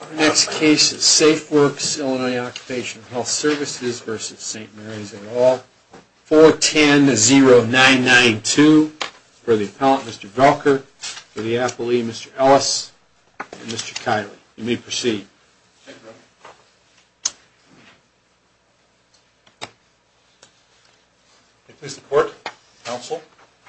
Our next case is Safeworks Illinois Occupational Health Services v. St. Mary's and all. 410-0992 for the appellant, Mr. Velker, for the appellee, Mr. Ellis, and Mr. Kiley. You may proceed. Thank you. Please report, counsel.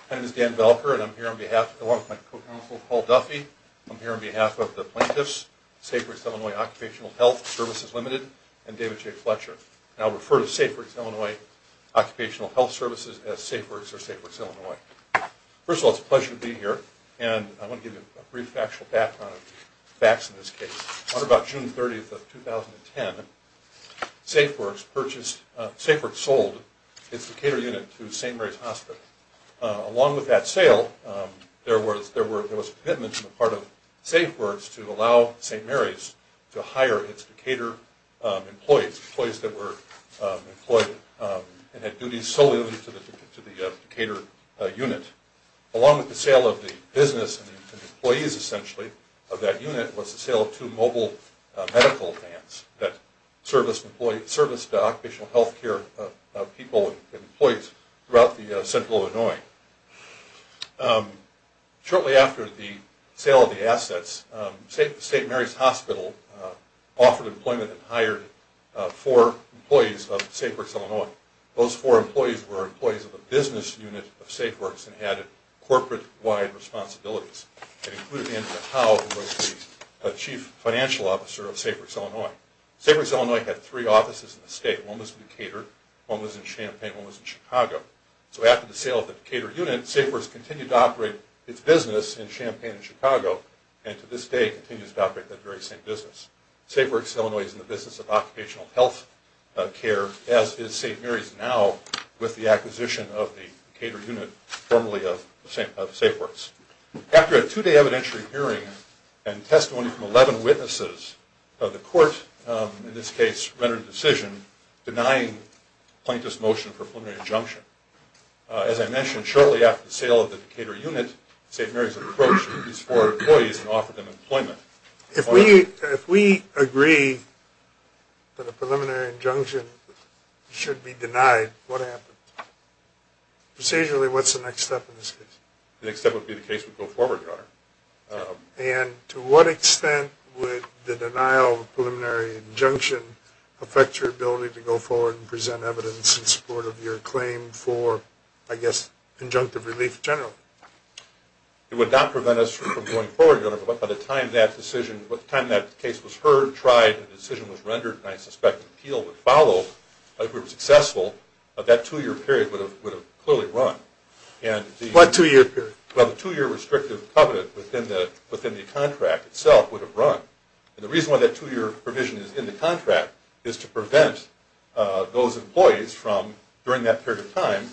My name is Dan Velker and I'm here on behalf, along with my co-counsel, Paul Duffy. I'm here on behalf of the plaintiffs, Safeworks Illinois Occupational Health Services Ltd. and David J. Fletcher. I'll refer to Safeworks Illinois Occupational Health Services as Safeworks or Safeworks Illinois. First of all, it's a pleasure to be here and I want to give you a brief factual background of the facts in this case. On about June 30, 2010, Safeworks sold its Decatur unit to St. Mary's Hospital. Along with that sale, there was a commitment on the part of Safeworks to allow St. Mary's to hire its Decatur employees, employees that were employed and had duties solely to the Decatur unit. Along with the sale of the business and the employees, essentially, of that unit was the sale of two mobile medical vans that serviced occupational health care people and employees throughout central Illinois. Shortly after the sale of the assets, St. Mary's Hospital offered employment and hired four employees of Safeworks Illinois. Those four employees were employees of the business unit of Safeworks and had corporate-wide responsibilities. It included Andrew Howe, who was the chief financial officer of Safeworks Illinois. Safeworks Illinois had three offices in the state. One was in Decatur, one was in Champaign, one was in Chicago. So after the sale of the Decatur unit, Safeworks continued to operate its business in Champaign and Chicago and to this day continues to operate that very same business. Safeworks Illinois is in the business of occupational health care, as is St. Mary's now, with the acquisition of the Decatur unit formerly of Safeworks. After a two-day evidentiary hearing and testimony from 11 witnesses, the court, in this case, rendered a decision denying plaintiff's motion for preliminary injunction. As I mentioned, shortly after the sale of the Decatur unit, St. Mary's approached these four employees and offered them employment. If we agree that a preliminary injunction should be denied, what happens? Precisely, what's the next step in this case? The next step would be the case would go forward, Your Honor. And to what extent would the denial of a preliminary injunction affect your ability to go forward and present evidence in support of your claim for, I guess, injunctive relief generally? It would not prevent us from going forward, Your Honor. But by the time that decision, by the time that case was heard, tried, and the decision was rendered, and I suspect an appeal would follow, if it were successful, that two-year period would have clearly run. What two-year period? Well, the two-year restrictive covenant within the contract itself would have run. And the reason why that two-year provision is in the contract is to prevent those employees from, during that period of time,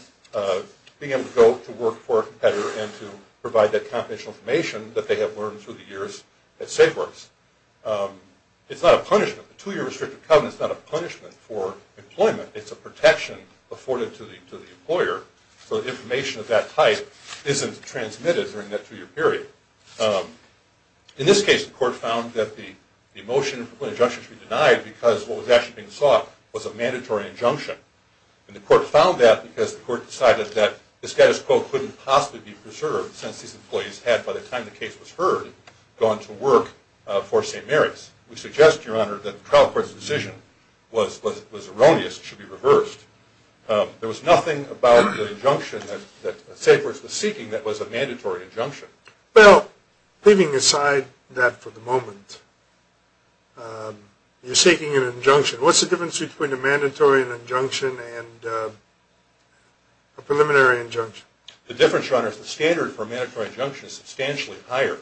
being able to go to work for a competitor and to provide that confidential information that they have learned through the years at SafeWorks. It's not a punishment. A two-year restrictive covenant is not a punishment for employment. It's a protection afforded to the employer, so the information of that type isn't transmitted during that two-year period. In this case, the court found that the motion for an injunction should be denied because what was actually being sought was a mandatory injunction. And the court found that because the court decided that the status quo couldn't possibly be preserved since these employees had, by the time the case was heard, gone to work for St. Mary's. We suggest, Your Honor, that the trial court's decision was erroneous and should be reversed. There was nothing about the injunction that SafeWorks was seeking that was a mandatory injunction. Well, leaving aside that for the moment, you're seeking an injunction. What's the difference between a mandatory injunction and a preliminary injunction? The difference, Your Honor, is the standard for a mandatory injunction is substantially higher.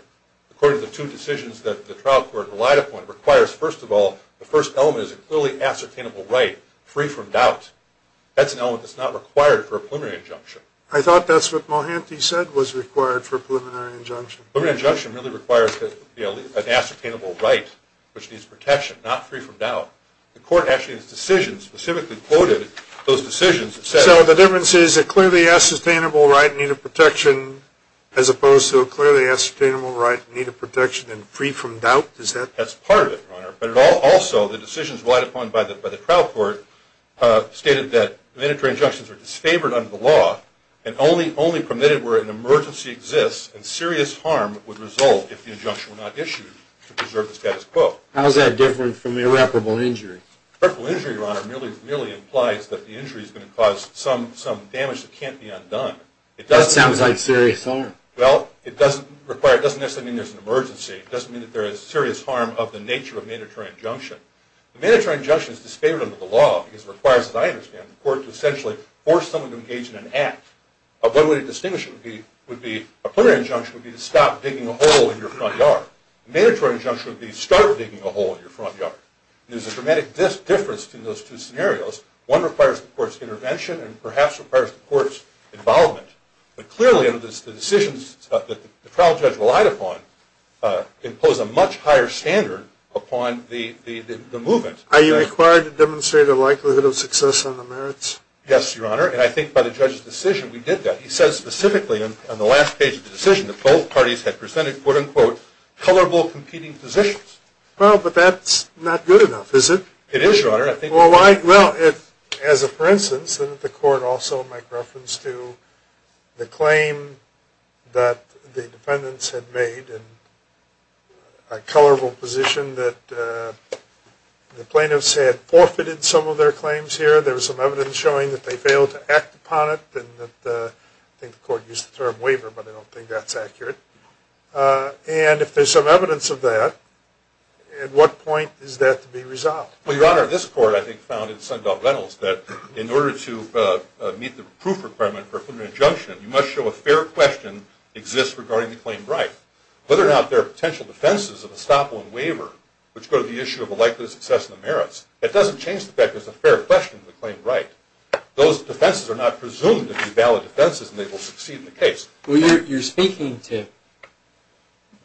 According to the two decisions that the trial court relied upon, it requires, first of all, the first element is a clearly ascertainable right, free from doubt. That's an element that's not required for a preliminary injunction. I thought that's what Mulhanty said was required for a preliminary injunction. A preliminary injunction really requires an ascertainable right which needs protection, not free from doubt. The court actually in its decision specifically quoted those decisions and said- So the difference is a clearly ascertainable right in need of protection as opposed to a clearly ascertainable right in need of protection and free from doubt? That's part of it, Your Honor. But also the decisions relied upon by the trial court stated that mandatory injunctions are disfavored under the law and only permitted where an emergency exists and serious harm would result if the injunction were not issued to preserve the status quo. How is that different from irreparable injury? Irreparable injury, Your Honor, merely implies that the injury is going to cause some damage that can't be undone. That sounds like serious harm. Well, it doesn't necessarily mean there's an emergency. It doesn't mean that there is serious harm of the nature of a mandatory injunction. A mandatory injunction is disfavored under the law because it requires, as I understand it, the court to essentially force someone to engage in an act. One way to distinguish it would be a preliminary injunction would be to stop digging a hole in your front yard. A mandatory injunction would be start digging a hole in your front yard. There's a dramatic difference between those two scenarios. One requires the court's intervention and perhaps requires the court's involvement. But clearly the decisions that the trial judge relied upon impose a much higher standard upon the movement. Are you required to demonstrate a likelihood of success on the merits? Yes, Your Honor, and I think by the judge's decision we did that. He says specifically on the last page of the decision that both parties had presented, quote, unquote, colorable competing positions. Well, but that's not good enough, is it? It is, Your Honor. Well, as a for instance, didn't the court also make reference to the claim that the defendants had made in a colorable position that the plaintiffs had forfeited some of their claims here? There was some evidence showing that they failed to act upon it. I think the court used the term waiver, but I don't think that's accurate. And if there's some evidence of that, at what point is that to be resolved? Well, Your Honor, this court I think found in Sundahl-Reynolds that in order to meet the proof requirement for a criminal injunction, you must show a fair question exists regarding the claim of right. Whether or not there are potential defenses of estoppel and waiver, which go to the issue of a likelihood of success on the merits, that doesn't change the fact that there's a fair question of the claim of right. Those defenses are not presumed to be valid defenses and they will succeed in the case. Well, you're speaking to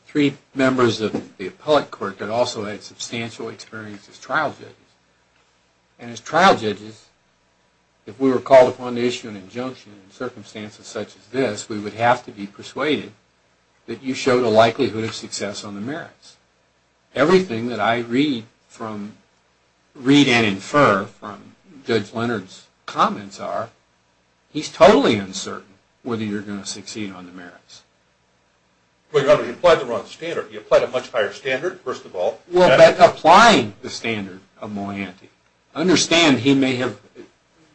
three members of the appellate court that also had substantial experience as trial judges. And as trial judges, if we were called upon to issue an injunction in circumstances such as this, we would have to be persuaded that you showed a likelihood of success on the merits. Everything that I read and infer from Judge Leonard's comments are, he's totally uncertain whether you're going to succeed on the merits. Well, Your Honor, you applied the wrong standard. You applied a much higher standard, first of all. Well, that's applying the standard of Malianti. I understand he may have,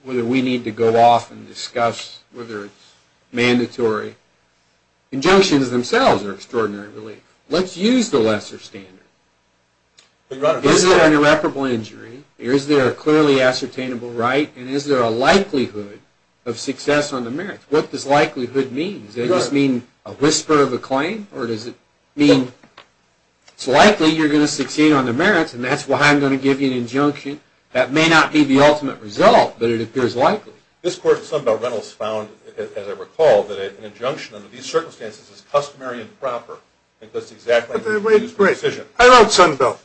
whether we need to go off and discuss whether it's mandatory. Injunctions themselves are extraordinary relief. Let's use the lesser standard. Is there an irreparable injury? Is there a clearly ascertainable right? And is there a likelihood of success on the merits? What does likelihood mean? Does it just mean a whisper of a claim? Or does it mean it's likely you're going to succeed on the merits and that's why I'm going to give you an injunction? That may not be the ultimate result, but it appears likely. This Court of Sunbelt Rentals found, as I recall, that an injunction under these circumstances is customary and proper. And that's exactly how we use precision. I wrote Sunbelt.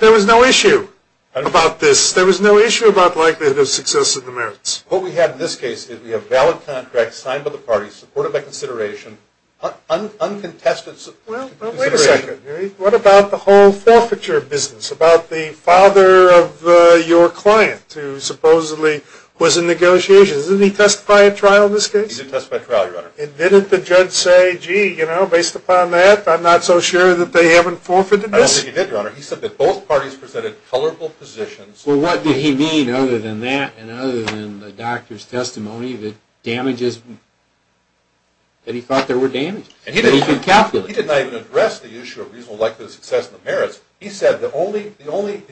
There was no issue about this. There was no issue about likelihood of success on the merits. What we have in this case is we have valid contracts signed by the parties, supported by consideration, uncontested consideration. Well, wait a second. What about the whole forfeiture business, about the father of your client who supposedly was in negotiations? Didn't he testify at trial in this case? He did testify at trial, Your Honor. And didn't the judge say, gee, you know, based upon that, I'm not so sure that they haven't forfeited this? I don't think he did, Your Honor. He said that both parties presented colorful positions. Well, what did he mean other than that and other than the doctor's testimony, the damages, that he thought there were damages that he could calculate? He did not even address the issue of reasonable likelihood of success on the merits. He said the only element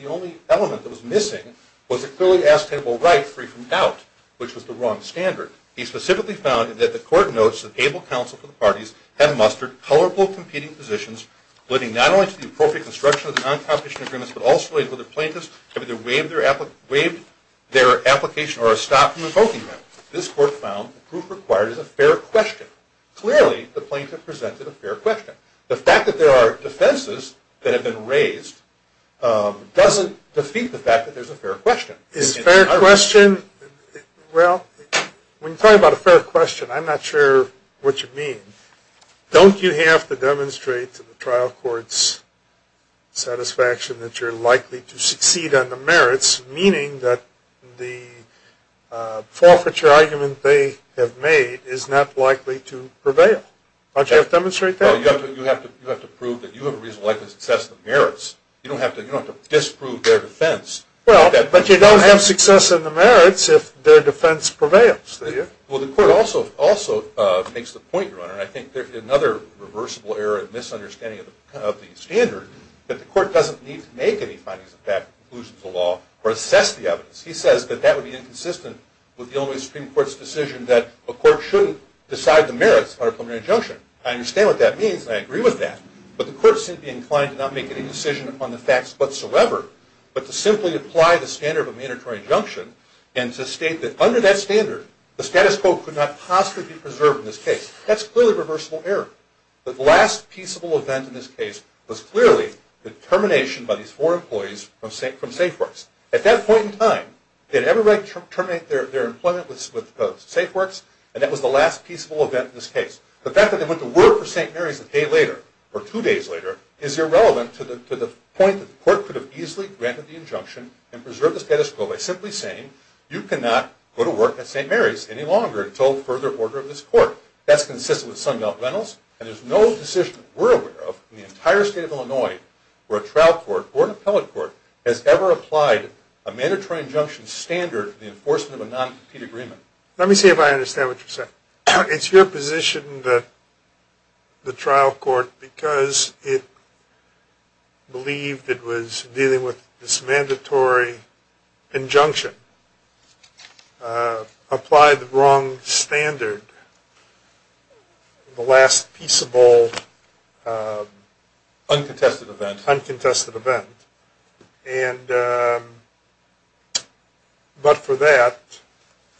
that was missing was a clearly askable right free from doubt, which was the wrong standard. He specifically found that the Court notes that able counsel for the parties had mustered colorful competing positions, alluding not only to the appropriate construction of the non-competition agreements, but also as whether plaintiffs have either waived their application or are stopped from invoking them. This Court found the proof required is a fair question. Clearly, the plaintiff presented a fair question. The fact that there are defenses that have been raised doesn't defeat the fact that there's a fair question. Is it a fair question? Well, when you talk about a fair question, I'm not sure what you mean. Don't you have to demonstrate to the trial court's satisfaction that you're likely to succeed on the merits, meaning that the forfeiture argument they have made is not likely to prevail? Don't you have to demonstrate that? You have to prove that you have a reasonable likelihood of success on the merits. You don't have to disprove their defense. But you don't have success on the merits if their defense prevails, do you? Well, the Court also makes the point, Your Honor, and I think there's another reversible error and misunderstanding of the standard, that the Court doesn't need to make any findings of fact, conclusions of the law, or assess the evidence. He says that that would be inconsistent with the only Supreme Court's decision that a court shouldn't decide the merits of a preliminary injunction. I understand what that means, and I agree with that. But the Court shouldn't be inclined to not make any decision upon the facts whatsoever, but to simply apply the standard of a mandatory injunction and to state that under that standard, the status quo could not possibly be preserved in this case. That's clearly a reversible error. The last peaceable event in this case was clearly the termination by these four employees from SafeWorks. At that point in time, they had every right to terminate their employment with SafeWorks, and that was the last peaceable event in this case. The fact that they went to work for St. Mary's a day later, or two days later, is irrelevant to the point that the Court could have easily granted the injunction and preserved the status quo by simply saying, you cannot go to work at St. Mary's any longer until further order of this Court. That's consistent with Sunbelt Rentals, and there's no decision that we're aware of in the entire state of Illinois where a trial court or an appellate court has ever applied a mandatory injunction standard to the enforcement of a non-compete agreement. Let me see if I understand what you're saying. It's your position that the trial court, because it believed it was dealing with this mandatory injunction, applied the wrong standard, the last peaceable... Uncontested event. Uncontested event. And, but for that,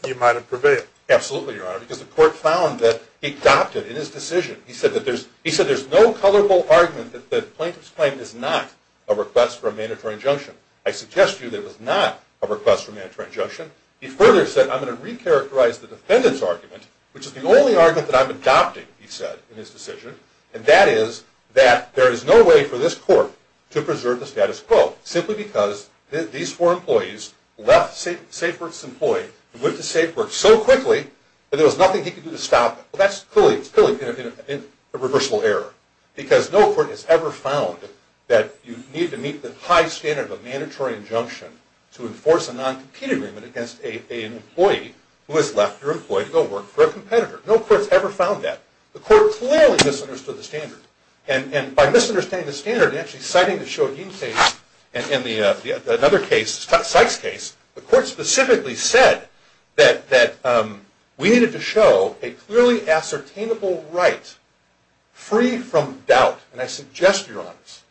you might have prevailed. Absolutely, Your Honor, because the Court found that it adopted in his decision, he said that there's no colorable argument that the plaintiff's claim is not a request for a mandatory injunction. I suggest to you that it was not a request for a mandatory injunction. He further said, I'm going to recharacterize the defendant's argument, which is the only argument that I'm adopting, he said, in his decision, and that is that there is no way for this Court to preserve the status quo, simply because these four employees left SafeWorks employed, went to SafeWorks so quickly that there was nothing he could do to stop it. Well, that's clearly a reversible error, because no court has ever found that you need to meet the high standard of a mandatory injunction to enforce a non-compete agreement against an employee who has left your employee to go work for a competitor. No court has ever found that. The Court clearly misunderstood the standard, and by misunderstanding the standard, actually citing the Shogin case, and another case, Sykes' case, the Court specifically said that we needed to show a clearly ascertainable right, free from doubt, and I suggest, Your Honors,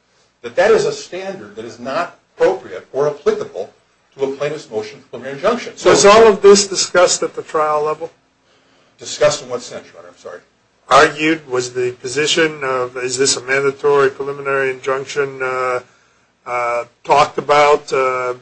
that that is a standard that is not appropriate or applicable to a plaintiff's motion of preliminary injunction. So is all of this discussed at the trial level? Discussed in what sense, Your Honor? I'm sorry. Was the position of is this a mandatory preliminary injunction talked about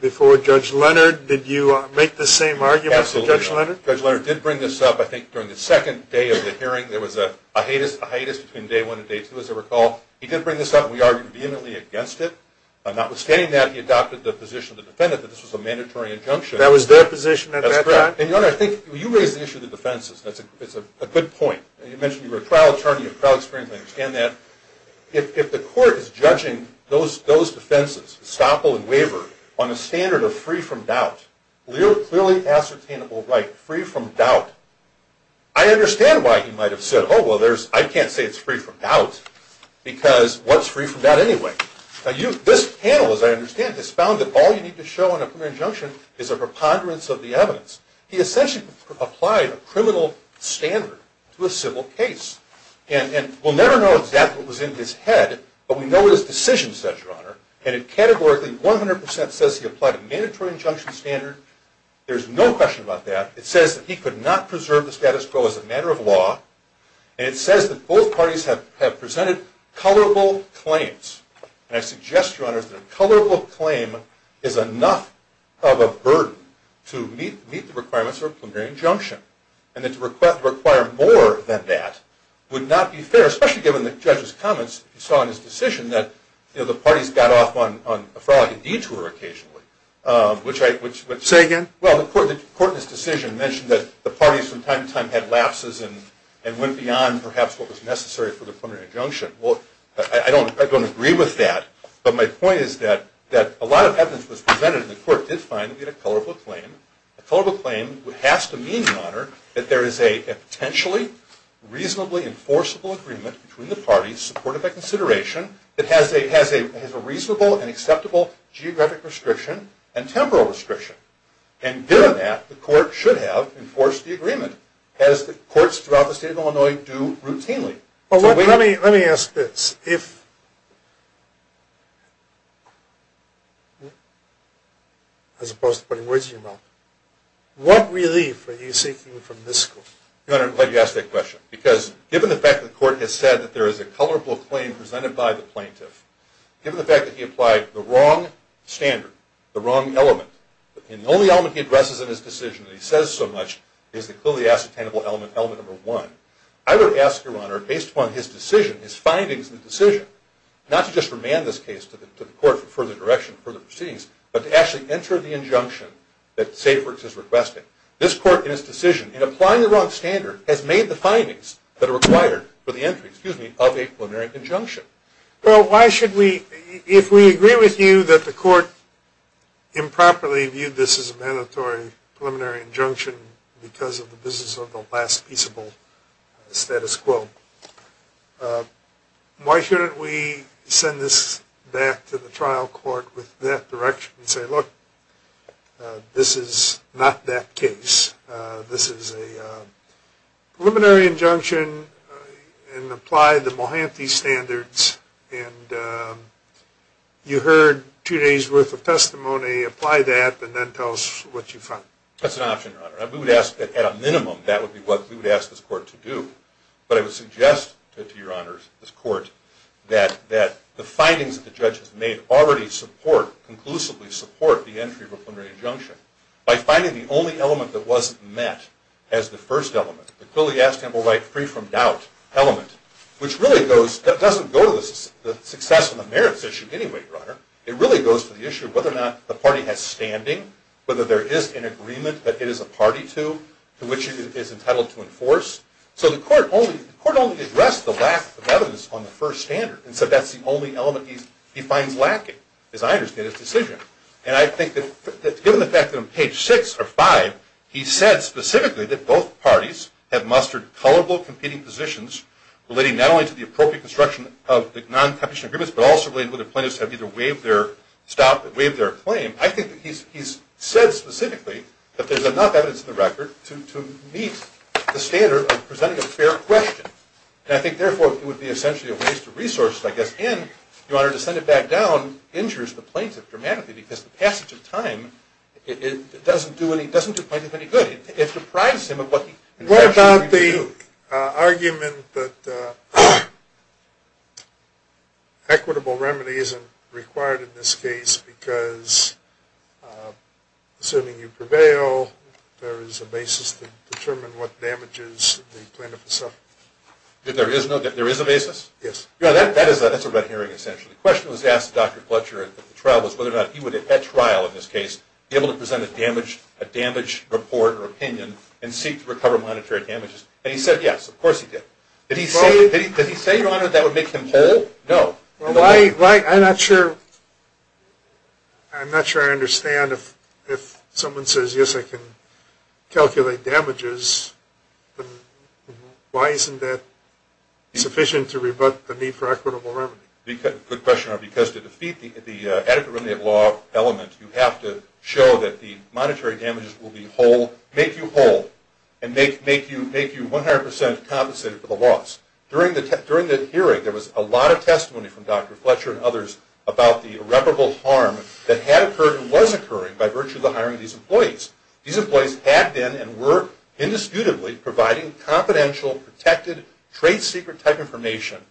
before Judge Leonard? Did you make the same argument, Judge Leonard? Absolutely. Judge Leonard did bring this up, I think, during the second day of the hearing. There was a hiatus between day one and day two, as I recall. He did bring this up, and we argued vehemently against it. Notwithstanding that, he adopted the position of the defendant that this was a mandatory injunction. That was their position at that time? That's correct. And, Your Honor, I think you raised the issue of the defenses. It's a good point. You mentioned you were a trial attorney, a trial experience attorney. I understand that. If the Court is judging those defenses, estoppel and waiver, on a standard of free from doubt, clearly ascertainable right, free from doubt, I understand why he might have said, oh, well, I can't say it's free from doubt, because what's free from doubt anyway? This panel, as I understand it, has found that all you need to show in a preliminary injunction is a preponderance of the evidence. He essentially applied a criminal standard to a civil case. And we'll never know exactly what was in his head, but we know what his decision says, Your Honor. And it categorically, 100 percent, says he applied a mandatory injunction standard. There's no question about that. It says that he could not preserve the status quo as a matter of law. And it says that both parties have presented colorable claims. And I suggest, Your Honor, that a colorable claim is enough of a burden to meet the requirements of a preliminary injunction, and that to require more than that would not be fair, especially given the judge's comments he saw in his decision that, you know, the parties got off on a frolicking detour occasionally, which I don't agree with. Say again? Well, the Court in his decision mentioned that the parties from time to time had lapses and went beyond perhaps what was necessary for the preliminary injunction. Well, I don't agree with that. But my point is that a lot of evidence was presented, and the Court did find that we had a colorable claim. A colorable claim has to mean, Your Honor, that there is a potentially reasonably enforceable agreement between the parties supported by consideration that has a reasonable and acceptable geographic restriction and temporal restriction. And given that, the Court should have enforced the agreement, as the courts throughout the State of Illinois do routinely. Well, let me ask this. As opposed to putting words in your mouth, what relief are you seeking from this Court? Your Honor, I'm glad you asked that question, because given the fact that the Court has said that there is a colorable claim presented by the plaintiff, given the fact that he applied the wrong standard, the wrong element, and the only element he addresses in his decision that he says so much is the clearly ascertainable element, element number one, I would ask, Your Honor, based upon his decision, his findings in the decision, not to just remand this case to the Court for further direction, further proceedings, but to actually enter the injunction that SafeWorks has requested. This Court, in its decision, in applying the wrong standard, has made the findings that are required for the entry, excuse me, of a preliminary injunction. Well, why should we, if we agree with you that the Court improperly viewed this as a mandatory preliminary injunction because of the business of the last peaceable status quo, why shouldn't we send this back to the trial court with that direction and say, look, this is not that case. This is a preliminary injunction and apply the Mohanty standards, and you heard two days' worth of testimony. Apply that, and then tell us what you find. That's an option, Your Honor. We would ask that at a minimum that would be what we would ask this Court to do. But I would suggest to Your Honor, this Court, that the findings that the judge has made already support, conclusively support the entry of a preliminary injunction. By finding the only element that wasn't met as the first element, the clearly ascertainable right free from doubt element, which really doesn't go to the success and the merits issue anyway, Your Honor. It really goes to the issue of whether or not the party has standing, whether there is an agreement that it is a party to, to which it is entitled to enforce. So the Court only addressed the lack of evidence on the first standard and said that's the only element he finds lacking, as I understand his decision. And I think that given the fact that on page 6 or 5, he said specifically that both parties have mustered colorful competing positions relating not only to the appropriate construction of the non-competition agreements, but also related to whether plaintiffs have either waived their claim. I think that he's said specifically that there's enough evidence in the record to meet the standard of presenting a fair question. And I think, therefore, it would be essentially a waste of resources, I guess, and, Your Honor, to send it back down injures the plaintiff dramatically because the passage of time, it doesn't do plaintiff any good. It deprives him of what he essentially needs to do. What about the argument that equitable remedy isn't required in this case because, assuming you prevail, there is a basis to determine what damages the plaintiff has suffered? There is a basis? Yes. That's a red herring, essentially. The question was asked to Dr. Pletcher at the trial was whether or not he would, at trial in this case, be able to present a damage report or opinion and seek to recover monetary damages. And he said yes. Of course he did. Did he say, Your Honor, that would make him whole? No. I'm not sure I understand. If someone says, yes, I can calculate damages, why isn't that sufficient to rebut the need for equitable remedy? Good question, Your Honor, because to defeat the adequate remedy law element, you have to show that the monetary damages will make you whole and make you 100% compensated for the loss. During the hearing, there was a lot of testimony from Dr. Pletcher and others about the irreparable harm that had occurred and was occurring by virtue of the hiring of these employees. These employees had been and were indisputably providing confidential, protected, trade secret type information,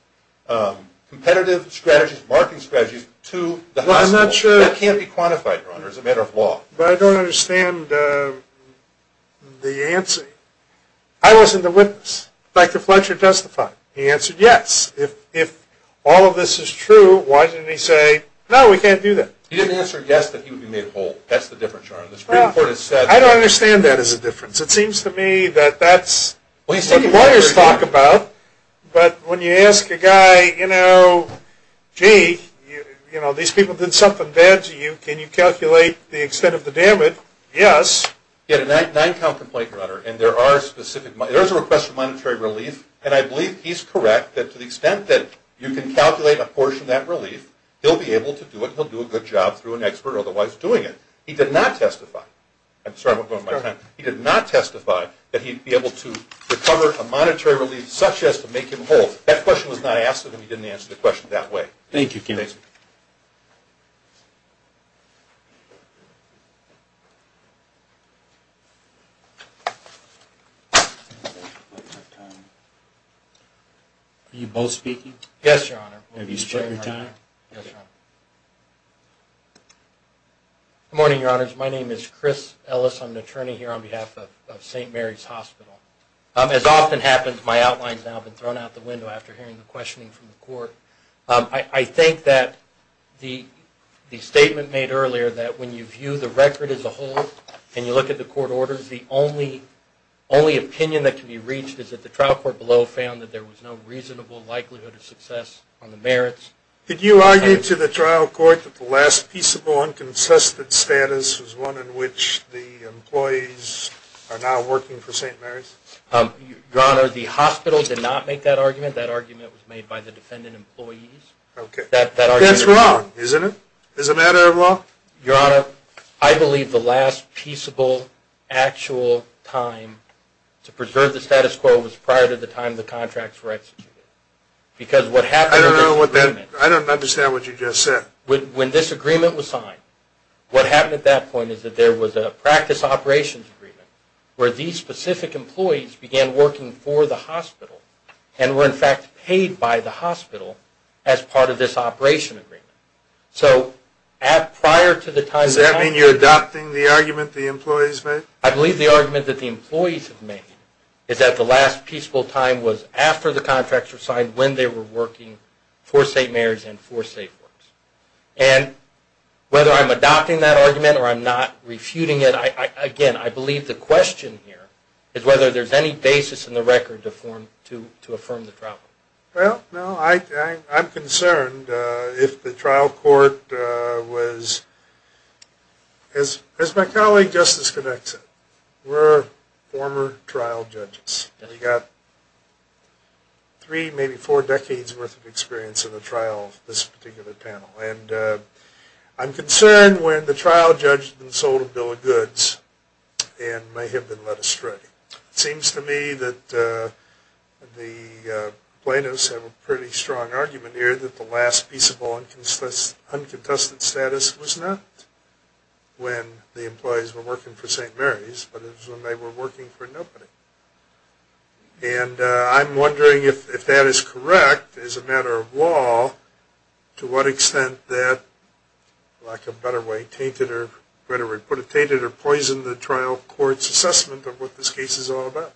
competitive strategies, marketing strategies to the hospital. That can't be quantified, Your Honor, as a matter of law. But I don't understand the answer. I wasn't the witness. Dr. Pletcher testified. He answered yes. If all of this is true, why didn't he say, no, we can't do that? He didn't answer yes that he would be made whole. That's the difference, Your Honor. The Supreme Court has said that. I don't understand that as a difference. It seems to me that that's what lawyers talk about. But when you ask a guy, you know, gee, you know, these people did something bad to you. Yes. He had a nine-count complaint, Your Honor, and there is a request for monetary relief, and I believe he's correct that to the extent that you can calculate a portion of that relief, he'll be able to do it, and he'll do a good job through an expert otherwise doing it. He did not testify. I'm sorry I'm running out of time. He did not testify that he'd be able to recover a monetary relief such as to make him whole. That question was not asked of him. He didn't answer the question that way. Thank you, counsel. I don't have time. Are you both speaking? Yes, Your Honor. Have you split your time? Yes, Your Honor. Good morning, Your Honors. My name is Chris Ellis. I'm an attorney here on behalf of St. Mary's Hospital. As often happens, my outline has now been thrown out the window after hearing the questioning from the court. I think that the statement made earlier that when you view the record as a whole and you look at the court orders, the only opinion that can be reached is that the trial court below found that there was no reasonable likelihood of success on the merits. Did you argue to the trial court that the last peaceable, unconsistent status was one in which the employees are now working for St. Mary's? Your Honor, the hospital did not make that argument. That argument was made by the defendant employees. That's wrong, isn't it? As a matter of law? Your Honor, I believe the last peaceable, actual time to preserve the status quo was prior to the time the contracts were executed. I don't understand what you just said. When this agreement was signed, what happened at that point is that there was a practice operations agreement where these specific employees began working for the hospital and were, in fact, paid by the hospital as part of this operation agreement. Does that mean you're adopting the argument the employees made? I believe the argument that the employees made is that the last peaceable time was after the contracts were signed when they were working for St. Mary's and for SafeWorks. And whether I'm adopting that argument or I'm not refuting it, again, I believe the question here is whether there's any basis in the record to affirm the trial. Well, no, I'm concerned if the trial court was... As my colleague Justice Connexon, we're former trial judges. We got three, maybe four decades worth of experience in the trial of this particular panel. And I'm concerned when the trial judge has been sold a bill of goods and may have been led astray. It seems to me that the plaintiffs have a pretty strong argument here that the last peaceable uncontested status was not when the employees were working for St. Mary's, but it was when they were working for nobody. And I'm wondering if that is correct as a matter of law, to what extent that, like a better way, tainted or, better way, put it, tainted or poisoned the trial court's assessment of what this case is all about.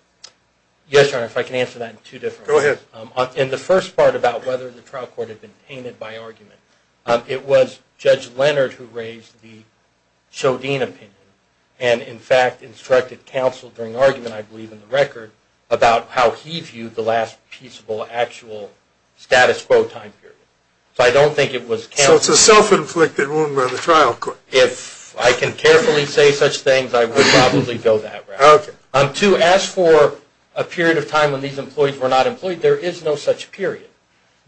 Yes, Your Honor, if I can answer that in two different ways. Go ahead. In the first part about whether the trial court had been tainted by argument, it was Judge Leonard who raised the Chodine opinion and, in fact, instructed counsel during argument, I believe, in the record, about how he viewed the last peaceable actual status quo time period. So I don't think it was counsel... So it's a self-inflicted wound by the trial court. If I can carefully say such things, I would probably go that route. Okay. Two, as for a period of time when these employees were not employed, there is no such period.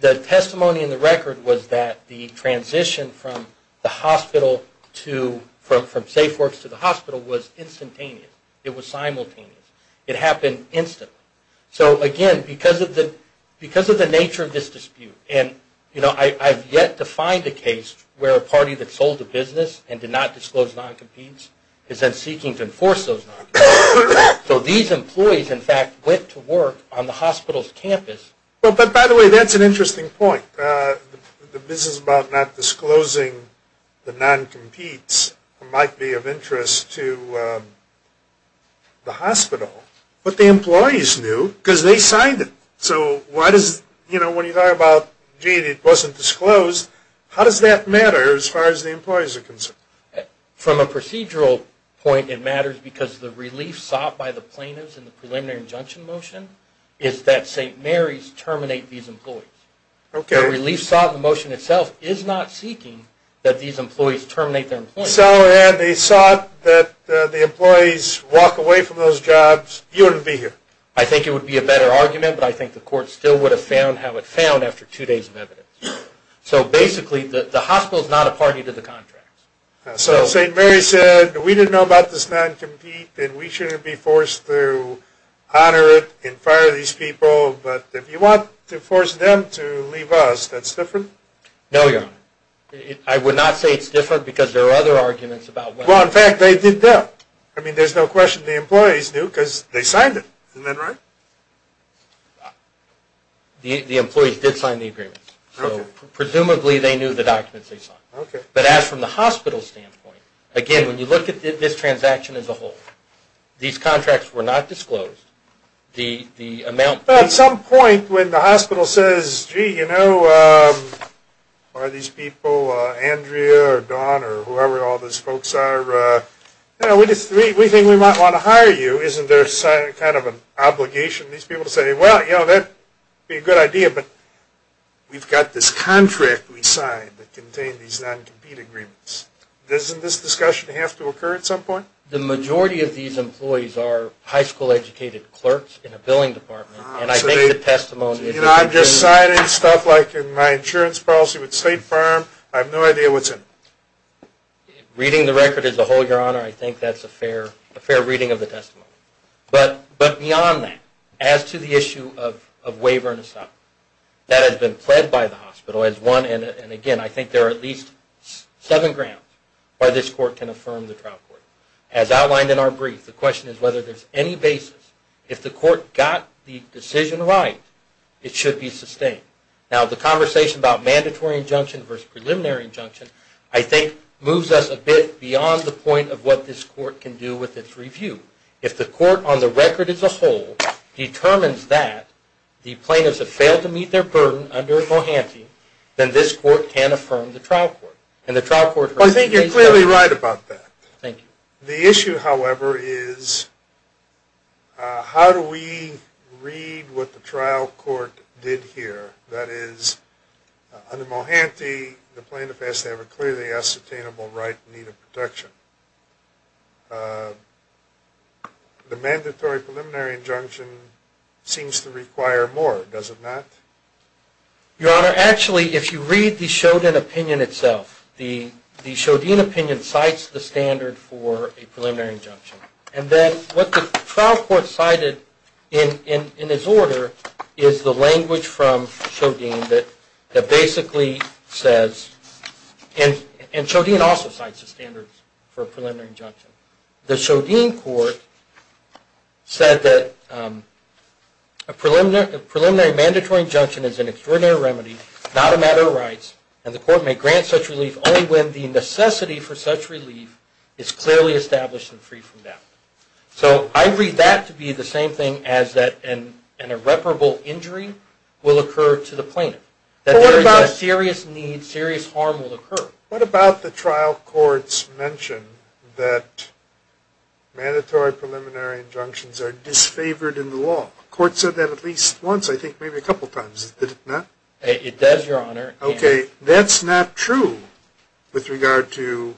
The testimony in the record was that the transition from the hospital to... from SafeWorks to the hospital was instantaneous. It was simultaneous. It happened instantly. So, again, because of the nature of this dispute, I've yet to find a case where a party that sold a business and did not disclose non-competes is then seeking to enforce those non-competes. So these employees, in fact, went to work on the hospital's campus... By the way, that's an interesting point. The business about not disclosing the non-competes might be of interest to the hospital, but the employees knew because they signed it. So why does... You know, when you talk about, gee, it wasn't disclosed, how does that matter as far as the employees are concerned? From a procedural point, it matters because the relief sought by the plaintiffs in the preliminary injunction motion is that St. Mary's terminate these employees. Okay. The relief sought in the motion itself is not seeking that these employees terminate their employees. So, and they sought that the employees walk away from those jobs. You wouldn't be here. I think it would be a better argument, but I think the court still would have found how it found after two days of evidence. So basically, the hospital is not a party to the contract. So St. Mary's said we didn't know about this non-compete and we shouldn't be forced to honor it and fire these people, but if you want to force them to leave us, that's different? No, Your Honor. I would not say it's different because there are other arguments about what... Well, in fact, they did that. I mean, there's no question the employees knew because they signed it. Isn't that right? The employees did sign the agreement. Okay. So presumably they knew the documents they signed. Okay. But as from the hospital's standpoint, again, when you look at this transaction as a whole, these contracts were not disclosed. The amount... At some point when the hospital says, gee, you know, why are these people, Andrea or Don or whoever all those folks are, you know, we think we might want to hire you. Isn't there kind of an obligation of these people to say, well, you know, that would be a good idea, but we've got this contract we signed that contained these non-compete agreements. Doesn't this discussion have to occur at some point? The majority of these employees are high school educated clerks in a billing department, and I think the testimony... You know, I'm just signing stuff like in my insurance policy with a state firm. I have no idea what's in it. Reading the record as a whole, Your Honor, I think that's a fair reading of the testimony. But beyond that, as to the issue of waiver and asylum, that has been pled by the hospital as one, and again, I think there are at least seven grounds why this court can affirm the trial court. As outlined in our brief, the question is whether there's any basis, if the court got the decision right, it should be sustained. Now, the conversation about mandatory injunction versus preliminary injunction, I think moves us a bit beyond the point of what this court can do with its review. If the court on the record as a whole determines that the plaintiffs have failed to meet their burden under Mohansky, then this court can affirm the trial court. And the trial court... Thank you. The issue, however, is how do we read what the trial court did here? That is, under Mohansky, the plaintiff has to have a clearly ascertainable right in need of protection. The mandatory preliminary injunction seems to require more, does it not? Your Honor, actually, if you read the Shodin opinion itself, the Shodin opinion cites the standard for a preliminary injunction. And then what the trial court cited in this order is the language from Shodin that basically says... And Shodin also cites the standard for a preliminary injunction. The Shodin court said that a preliminary mandatory injunction is an extraordinary remedy, not a matter of rights, and the court may grant such relief only when the necessity for such relief is clearly established and free from doubt. So I read that to be the same thing as that an irreparable injury will occur to the plaintiff. That there is a serious need, serious harm will occur. What about the trial court's mention that mandatory preliminary injunctions are disfavored in the law? The court said that at least once, I think maybe a couple times, did it not? It does, Your Honor. Okay, that's not true with regard to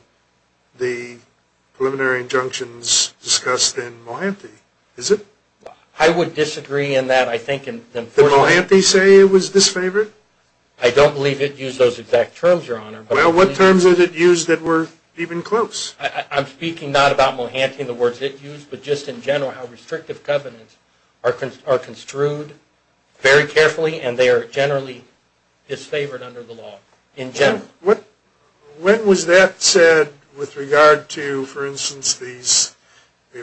the preliminary injunctions discussed in Mohanty, is it? I would disagree in that. Did Mohanty say it was disfavored? I don't believe it used those exact terms, Your Honor. Well, what terms did it use that were even close? I'm speaking not about Mohanty and the words it used, but just in general how restrictive covenants are construed very carefully and they are generally disfavored under the law in general. When was that said with regard to, for instance, these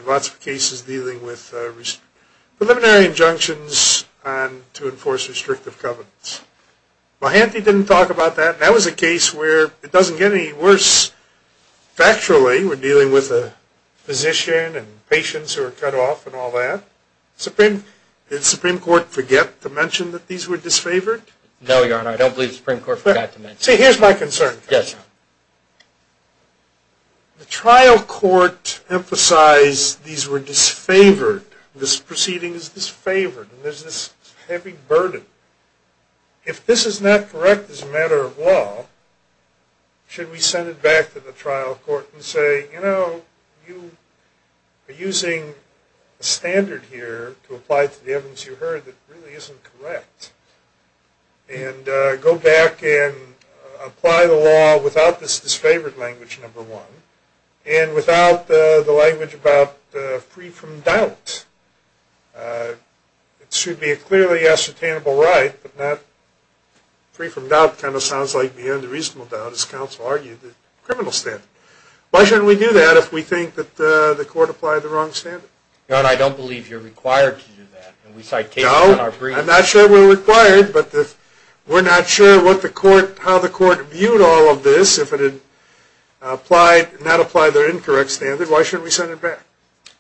lots of cases dealing with preliminary injunctions to enforce restrictive covenants? Mohanty didn't talk about that. That was a case where it doesn't get any worse factually. We're dealing with a physician and patients who are cut off and all that. Did the Supreme Court forget to mention that these were disfavored? No, Your Honor. I don't believe the Supreme Court forgot to mention that. See, here's my concern. Yes, Your Honor. The trial court emphasized these were disfavored. This proceeding is disfavored and there's this heavy burden. If this is not correct as a matter of law, should we send it back to the trial court and say, you know, you are using a standard here to apply to the evidence you heard that really isn't correct and go back and apply the law without this disfavored language, number one, and without the language about free from doubt? It should be a clearly ascertainable right, but not free from doubt kind of sounds like the unreasonable doubt, as counsel argued, the criminal standard. Why shouldn't we do that if we think that the court applied the wrong standard? Your Honor, I don't believe you're required to do that. No, I'm not sure we're required, but we're not sure how the court viewed all of this. If it had not applied their incorrect standard, why shouldn't we send it back?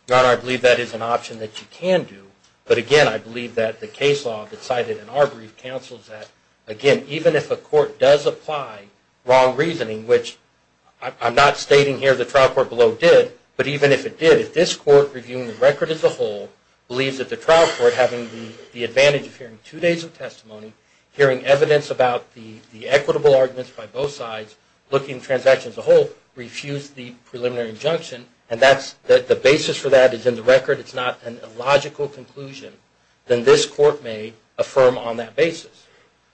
Your Honor, I believe that is an option that you can do, but again, I believe that the case law that's cited in our brief counsels that, again, even if a court does apply wrong reasoning, which I'm not stating here the trial court below did, but even if it did, if this court reviewing the record as a whole believes that the trial court having the advantage of hearing two days of testimony, hearing evidence about the equitable arguments by both sides, looking at the transaction as a whole, refused the preliminary injunction, and the basis for that is in the record, it's not an illogical conclusion, then this court may affirm on that basis.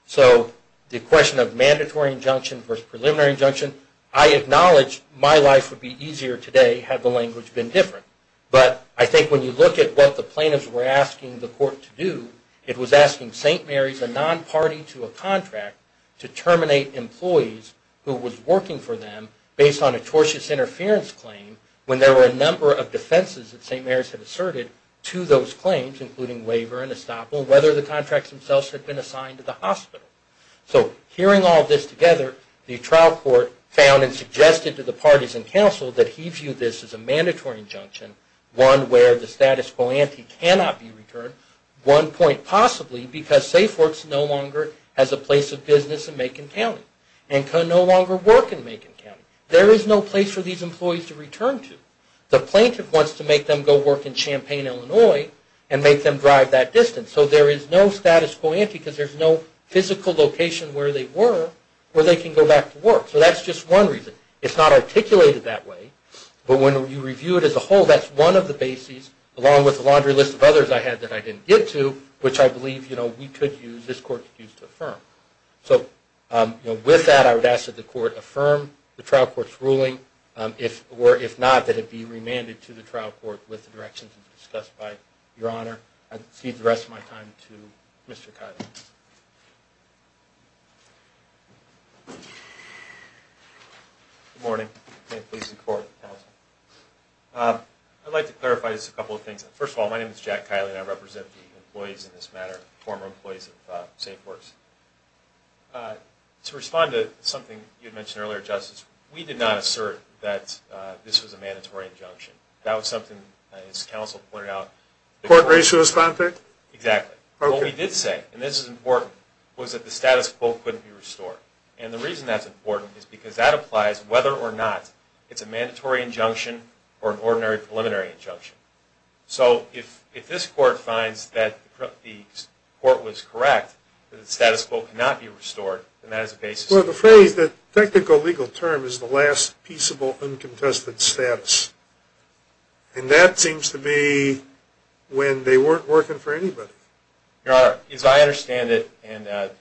So the question of mandatory injunction versus preliminary injunction, I acknowledge my life would be easier today had the language been different, but I think when you look at what the plaintiffs were asking the court to do, it was asking St. Mary's, a non-party to a contract, to terminate employees who was working for them based on a tortious interference claim when there were a number of defenses that St. Mary's had asserted to those claims, including waiver and estoppel, whether the contracts themselves had been assigned to the hospital. So hearing all this together, the trial court found and suggested to the parties in counsel that he viewed this as a mandatory injunction, one where the status quo ante cannot be returned, one point possibly, because SafeWorks no longer has a place of business in Macon County and can no longer work in Macon County. There is no place for these employees to return to. The plaintiff wants to make them go work in Champaign, Illinois, and make them drive that distance. So there is no status quo ante because there is no physical location where they were where they can go back to work. So that's just one reason. It's not articulated that way, but when you review it as a whole, that's one of the bases, along with a laundry list of others I had that I didn't get to, which I believe we could use, this court could use to affirm. So with that, I would ask that the court affirm the trial court's ruling, or if not, that it be remanded to the trial court with the directions discussed by Your Honor. I cede the rest of my time to Mr. Kiley. Good morning. Thank you for your support, counsel. I'd like to clarify just a couple of things. First of all, my name is Jack Kiley, and I represent the employees in this matter, former employees of SafeWorks. To respond to something you had mentioned earlier, Justice, we did not assert that this was a mandatory injunction. That was something, as counsel pointed out. The court raised a response there? Exactly. What we did say, and this is important, was that the status quo couldn't be restored. And the reason that's important is because that applies whether or not it's a mandatory injunction or an ordinary preliminary injunction. So if this court finds that the court was correct, that the status quo cannot be restored, then that is a basis. Well, the phrase, the technical legal term, is the last peaceable uncontested status. And that seems to be when they weren't working for anybody. Your Honor, as I understand it, and the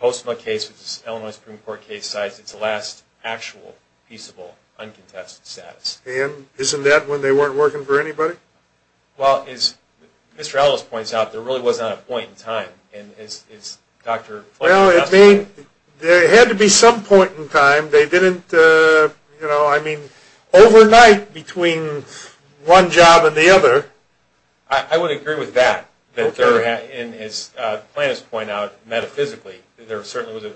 Postma case, which is an Illinois Supreme Court case, it's the last actual peaceable uncontested status. And isn't that when they weren't working for anybody? Well, as Mr. Ellis points out, there really wasn't a point in time. Well, it had to be some point in time. They didn't, you know, I mean, overnight between one job and the other. I would agree with that. And as plaintiffs point out, metaphysically, there certainly wasn't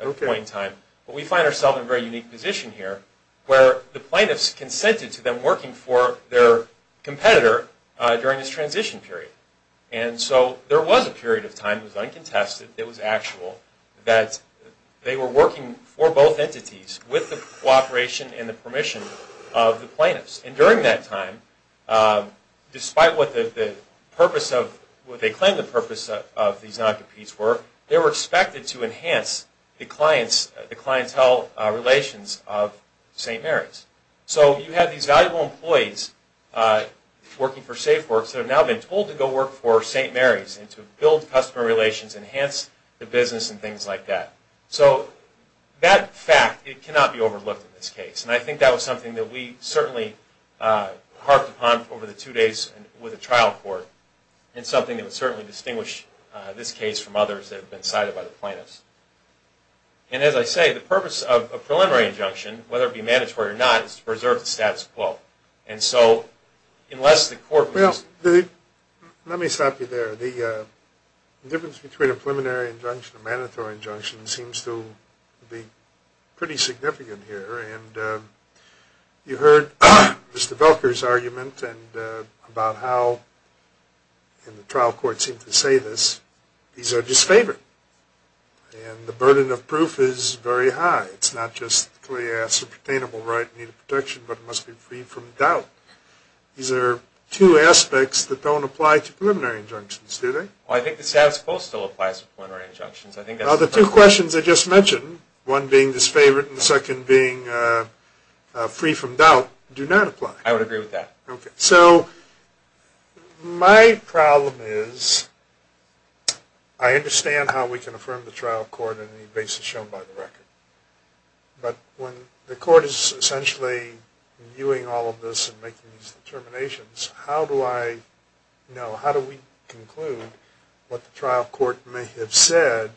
a point in time. But we find ourselves in a very unique position here, where the plaintiffs consented to them working for their competitor during this transition period. And so there was a period of time that was uncontested, that was actual, that they were working for both entities with the cooperation and the permission of the plaintiffs. And during that time, despite what they claimed the purpose of these non-competes were, they were expected to enhance the clientele relations of St. Mary's. So you had these valuable employees working for SafeWorks that have now been told to go work for St. Mary's, and to build customer relations, enhance the business, and things like that. So that fact, it cannot be overlooked in this case. And I think that was something that we certainly harped upon over the two days with the trial court. It's something that would certainly distinguish this case from others that have been cited by the plaintiffs. And as I say, the purpose of a preliminary injunction, whether it be mandatory or not, is to preserve the status quo. And so, unless the court was... Well, let me stop you there. The difference between a preliminary injunction and a mandatory injunction seems to be pretty significant here. And you heard Mr. Velker's argument about how, and the trial court seemed to say this, these are disfavored. And the burden of proof is very high. It's not just, yes, a pertainable right in need of protection, but it must be freed from doubt. These are two aspects that don't apply to preliminary injunctions, do they? Well, I think the status quo still applies to preliminary injunctions. Well, the two questions I just mentioned, one being disfavored and the second being free from doubt, do not apply. I would agree with that. Okay. So my problem is I understand how we can affirm the trial court on the basis shown by the record. But when the court is essentially viewing all of this and making these determinations, how do I know, what the trial court may have said,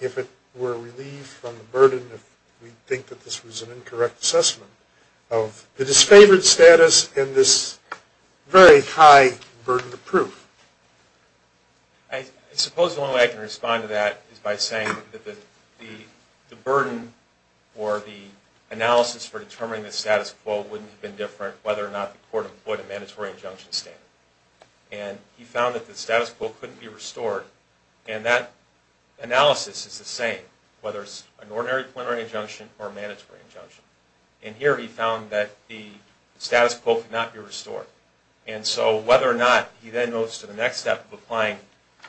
if it were relieved from the burden, if we think that this was an incorrect assessment, of the disfavored status and this very high burden of proof? I suppose the only way I can respond to that is by saying that the burden or the analysis for determining the status quo wouldn't have been different whether or not the court employed a mandatory injunction standard. And he found that the status quo couldn't be restored. And that analysis is the same, whether it's an ordinary preliminary injunction or a mandatory injunction. And here he found that the status quo could not be restored. And so whether or not he then goes to the next step of applying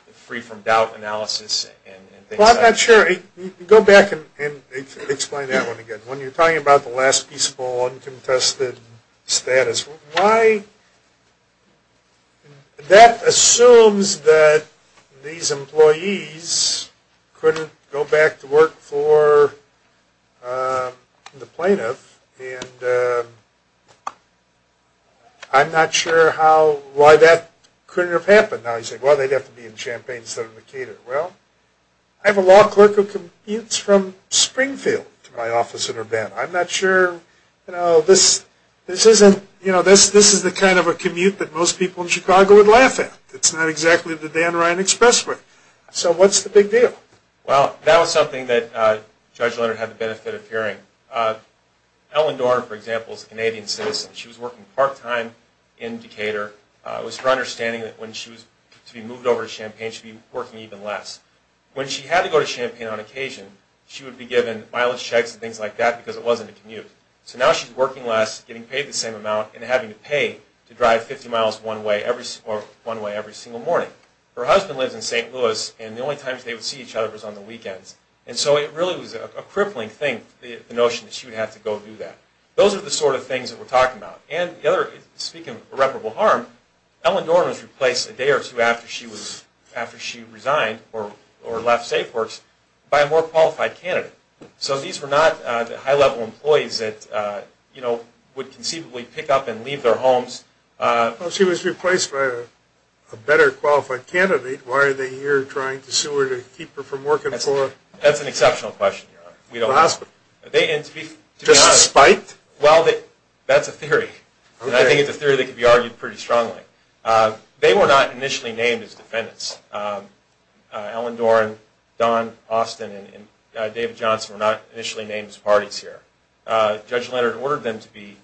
the free from doubt analysis and things like that. Well, I'm not sure. Go back and explain that one again. When you're talking about the last peaceful, uncontested status, why, that assumes that these employees couldn't go back to work for the plaintiff. And I'm not sure how, why that couldn't have happened. Now you say, well, they'd have to be in Champaign instead of in Decatur. Well, I have a law clerk who commutes from Springfield to my office in Urbana. I'm not sure, you know, this isn't, you know, this is the kind of a commute that most people in Chicago would laugh at. It's not exactly the Dan Ryan expressway. So what's the big deal? Well, that was something that Judge Leonard had the benefit of hearing. Ellen Dorn, for example, is a Canadian citizen. She was working part-time in Decatur. It was her understanding that when she was to be moved over to Champaign, she'd be working even less. When she had to go to Champaign on occasion, she would be given mileage checks and things like that because it wasn't a commute. So now she's working less, getting paid the same amount, and having to pay to drive 50 miles one way every single morning. Her husband lives in St. Louis, and the only times they would see each other was on the weekends. And so it really was a crippling thing, the notion that she would have to go do that. Those are the sort of things that we're talking about. Speaking of irreparable harm, Ellen Dorn was replaced a day or two after she resigned or left SafeWorks by a more qualified candidate. So these were not high-level employees that would conceivably pick up and leave their homes. Well, she was replaced by a better qualified candidate. Why are they here trying to sue her to keep her from working for her? That's an exceptional question, Your Honor. We don't know. Just spiked? Well, that's a theory. And I think it's a theory that could be argued pretty strongly. They were not initially named as defendants. Ellen Dorn, Don Austin, and David Johnson were not initially named as parties here. Judge Leonard ordered them to be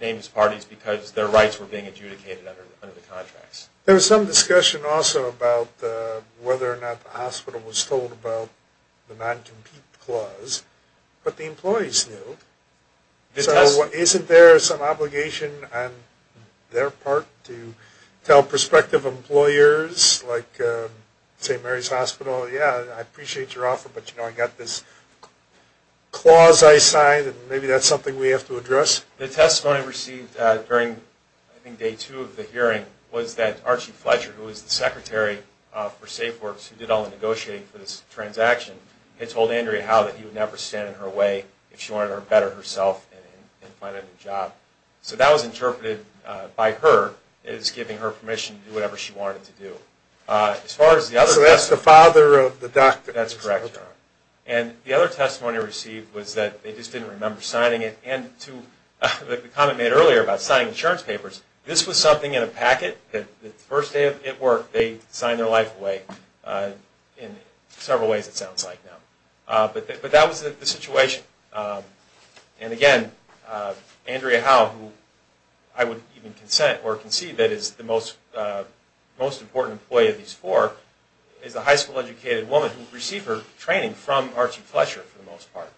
named as parties because their rights were being adjudicated under the contracts. There was some discussion also about whether or not the hospital was told about the non-compete clause. But the employees knew. So isn't there some obligation on their part to tell prospective employers like St. Mary's Hospital, yeah, I appreciate your offer, but, you know, I got this clause I signed and maybe that's something we have to address? The testimony received during, I think, day two of the hearing was that Archie Fletcher, who was the secretary for SafeWorks who did all the negotiating for this transaction, had told Andrea Howe that he would never stand in her way if she wanted to better herself and find a new job. So that was interpreted by her as giving her permission to do whatever she wanted to do. So that's the father of the doctor. That's correct, Your Honor. And the other testimony received was that they just didn't remember signing it. And to the comment made earlier about signing insurance papers, this was something in a packet. The first day at work, they signed their life away in several ways it sounds like now. But that was the situation. And, again, Andrea Howe, who I would even consent or concede that is the most important employee of these four, is a high school-educated woman who received her training from Archie Fletcher for the most part.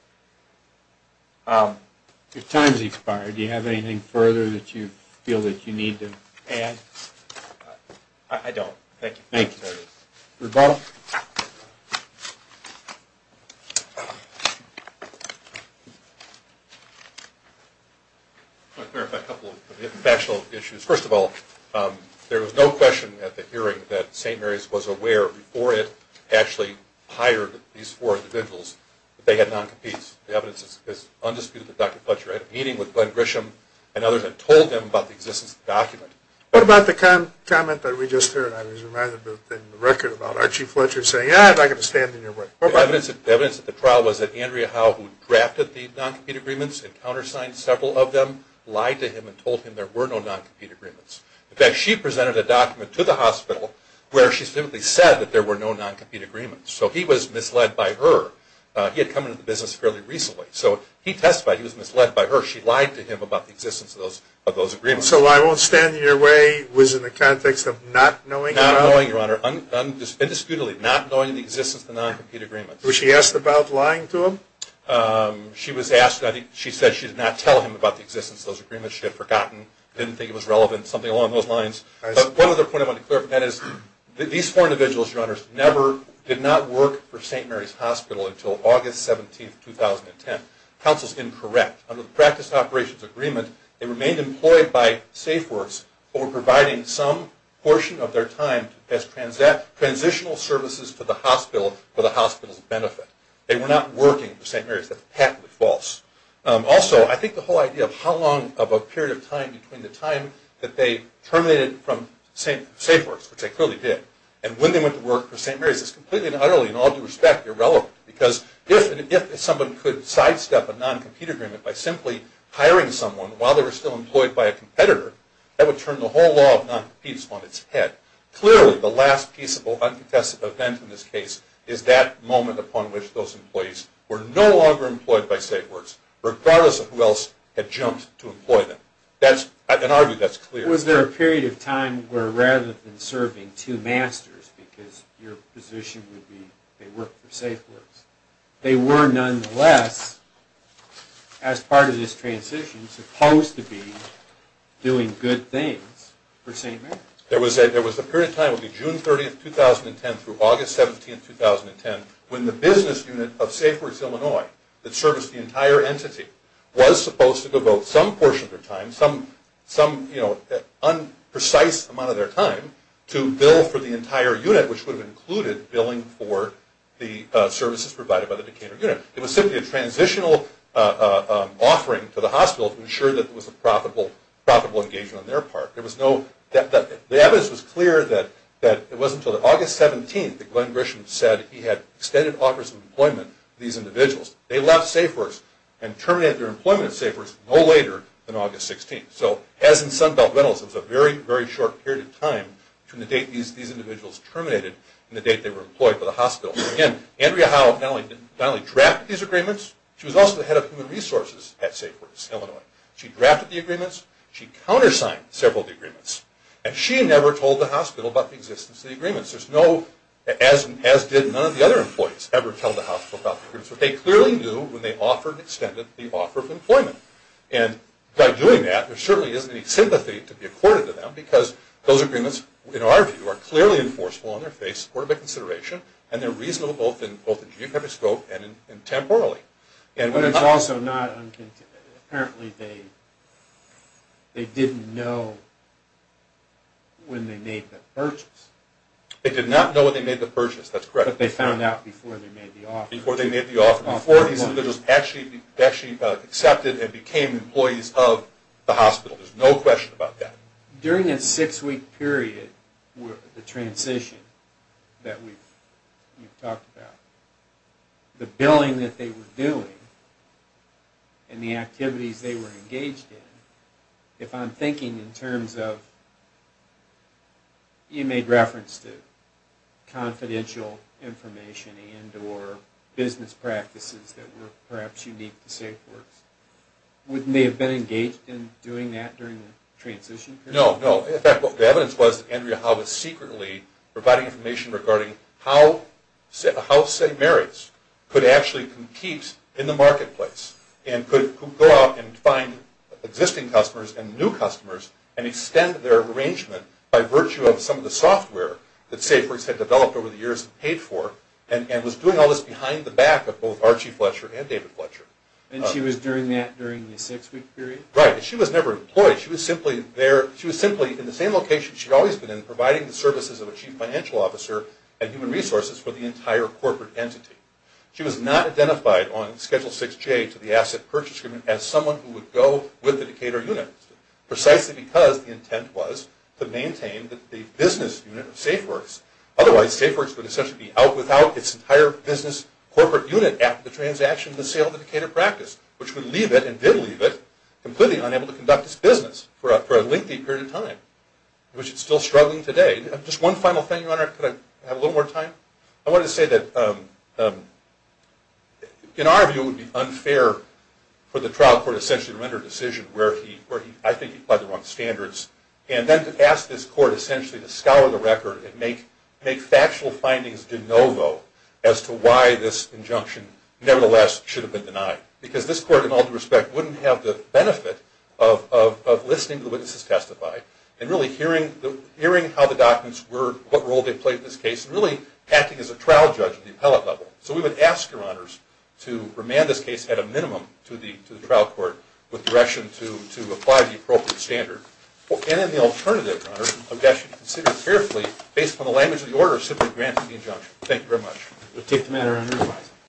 Your time has expired. Do you have anything further that you feel that you need to add? I don't. Thank you. Thank you. Rebuttal? I want to clarify a couple of factual issues. First of all, there was no question at the hearing that St. Mary's was aware, before it actually hired these four individuals, that they had non-competes. The evidence is undisputed that Dr. Fletcher had a meeting with Glenn Grisham and others and told them about the existence of the document. What about the comment that we just heard? I was reminded of it in the record about Archie Fletcher saying, yeah, I'd like to stand in your way. The evidence at the trial was that Andrea Howe, who drafted the non-compete agreements and countersigned several of them, lied to him and told him there were no non-compete agreements. In fact, she presented a document to the hospital where she simply said that there were no non-compete agreements. So he was misled by her. He had come into the business fairly recently. So he testified he was misled by her. She lied to him about the existence of those agreements. So I won't stand in your way was in the context of not knowing? Not knowing, Your Honor, indisputably not knowing the existence of the non-compete agreements. Was she asked about lying to him? She was asked. She said she did not tell him about the existence of those agreements. She had forgotten, didn't think it was relevant, something along those lines. But one other point I wanted to clarify is that these four individuals, Your Honors, never did not work for St. Mary's Hospital until August 17, 2010. Counsel's incorrect. Under the practice operations agreement, they remained employed by SafeWorks but were providing some portion of their time as transitional services to the hospital for the hospital's benefit. They were not working for St. Mary's. That's patently false. Also, I think the whole idea of how long of a period of time between the time that they terminated from SafeWorks, which they clearly did, and when they went to work for St. Mary's is completely and utterly and all due respect irrelevant because if someone could sidestep a non-compete agreement by simply hiring someone while they were still employed by a competitor, that would turn the whole law of non-competes on its head. Clearly, the last peaceable, uncontested event in this case is that moment upon which those employees were no longer employed by SafeWorks, regardless of who else had jumped to employ them. In our view, that's clear. Was there a period of time where rather than serving two masters, because your position would be they worked for SafeWorks, they were nonetheless, as part of this transition, supposed to be doing good things for St. Mary's? There was a period of time, it would be June 30, 2010 through August 17, 2010, when the business unit of SafeWorks Illinois that serviced the entire entity was supposed to devote some portion of their time, some precise amount of their time, to bill for the entire unit, which would have included billing for the services provided by the decanter unit. It was simply a transitional offering to the hospital to ensure that it was a profitable engagement on their part. The evidence was clear that it wasn't until August 17 that Glenn Grisham said that he had extended offers of employment to these individuals. They left SafeWorks and terminated their employment at SafeWorks no later than August 16. So, as in Sunbelt Rentals, it was a very, very short period of time between the date these individuals terminated and the date they were employed by the hospital. Again, Andrea Howe finally drafted these agreements. She was also the head of human resources at SafeWorks Illinois. She drafted the agreements. She countersigned several of the agreements. And she never told the hospital about the existence of the agreements. There's no, as did none of the other employees, ever tell the hospital about the agreements. But they clearly knew when they offered, extended the offer of employment. And by doing that, there certainly isn't any sympathy to be accorded to them because those agreements, in our view, are clearly enforceable on their face, supported by consideration, and they're reasonable both in geographic scope and temporally. But it's also not, apparently they didn't know when they made the purchase. They did not know when they made the purchase, that's correct. But they found out before they made the offer. Before they made the offer. Before these individuals actually accepted and became employees of the hospital. There's no question about that. During a six-week period, the transition that we've talked about, the billing that they were doing, and the activities they were engaged in, if I'm thinking in terms of, you made reference to confidential information and or business practices that were perhaps unique to SafeWorks, wouldn't they have been engaged in doing that during the transition period? No, no. In fact, the evidence was that Andrea Howe was secretly providing information regarding how St. Mary's could actually compete in the marketplace and could go out and find existing customers and new customers and extend their arrangement by virtue of some of the software that SafeWorks had developed over the years and paid for, and was doing all this behind the back of both Archie Fletcher and David Fletcher. And she was doing that during the six-week period? Right. She was never employed. She was simply there. She was simply in the same location she'd always been in, for the entire corporate entity. She was not identified on Schedule 6J to the asset purchase agreement as someone who would go with the Decatur unit, precisely because the intent was to maintain the business unit of SafeWorks. Otherwise, SafeWorks would essentially be out without its entire business corporate unit after the transaction and the sale of the Decatur practice, which would leave it, and did leave it, completely unable to conduct its business for a lengthy period of time, which it's still struggling today. Just one final thing, Your Honor. Could I have a little more time? I wanted to say that, in our view, it would be unfair for the trial court essentially to render a decision where I think he applied the wrong standards, and then to ask this court essentially to scour the record and make factual findings de novo as to why this injunction, nevertheless, should have been denied. Because this court, in all due respect, wouldn't have the benefit of listening to the witnesses testify and really hearing how the documents were, what role they played in this case, and really acting as a trial judge at the appellate level. So we would ask, Your Honors, to remand this case at a minimum to the trial court with direction to apply the appropriate standard. And then the alternative, Your Honor, I would ask you to consider carefully, based upon the language of the order, simply granting the injunction. Thank you very much. We'll take the matter under revising.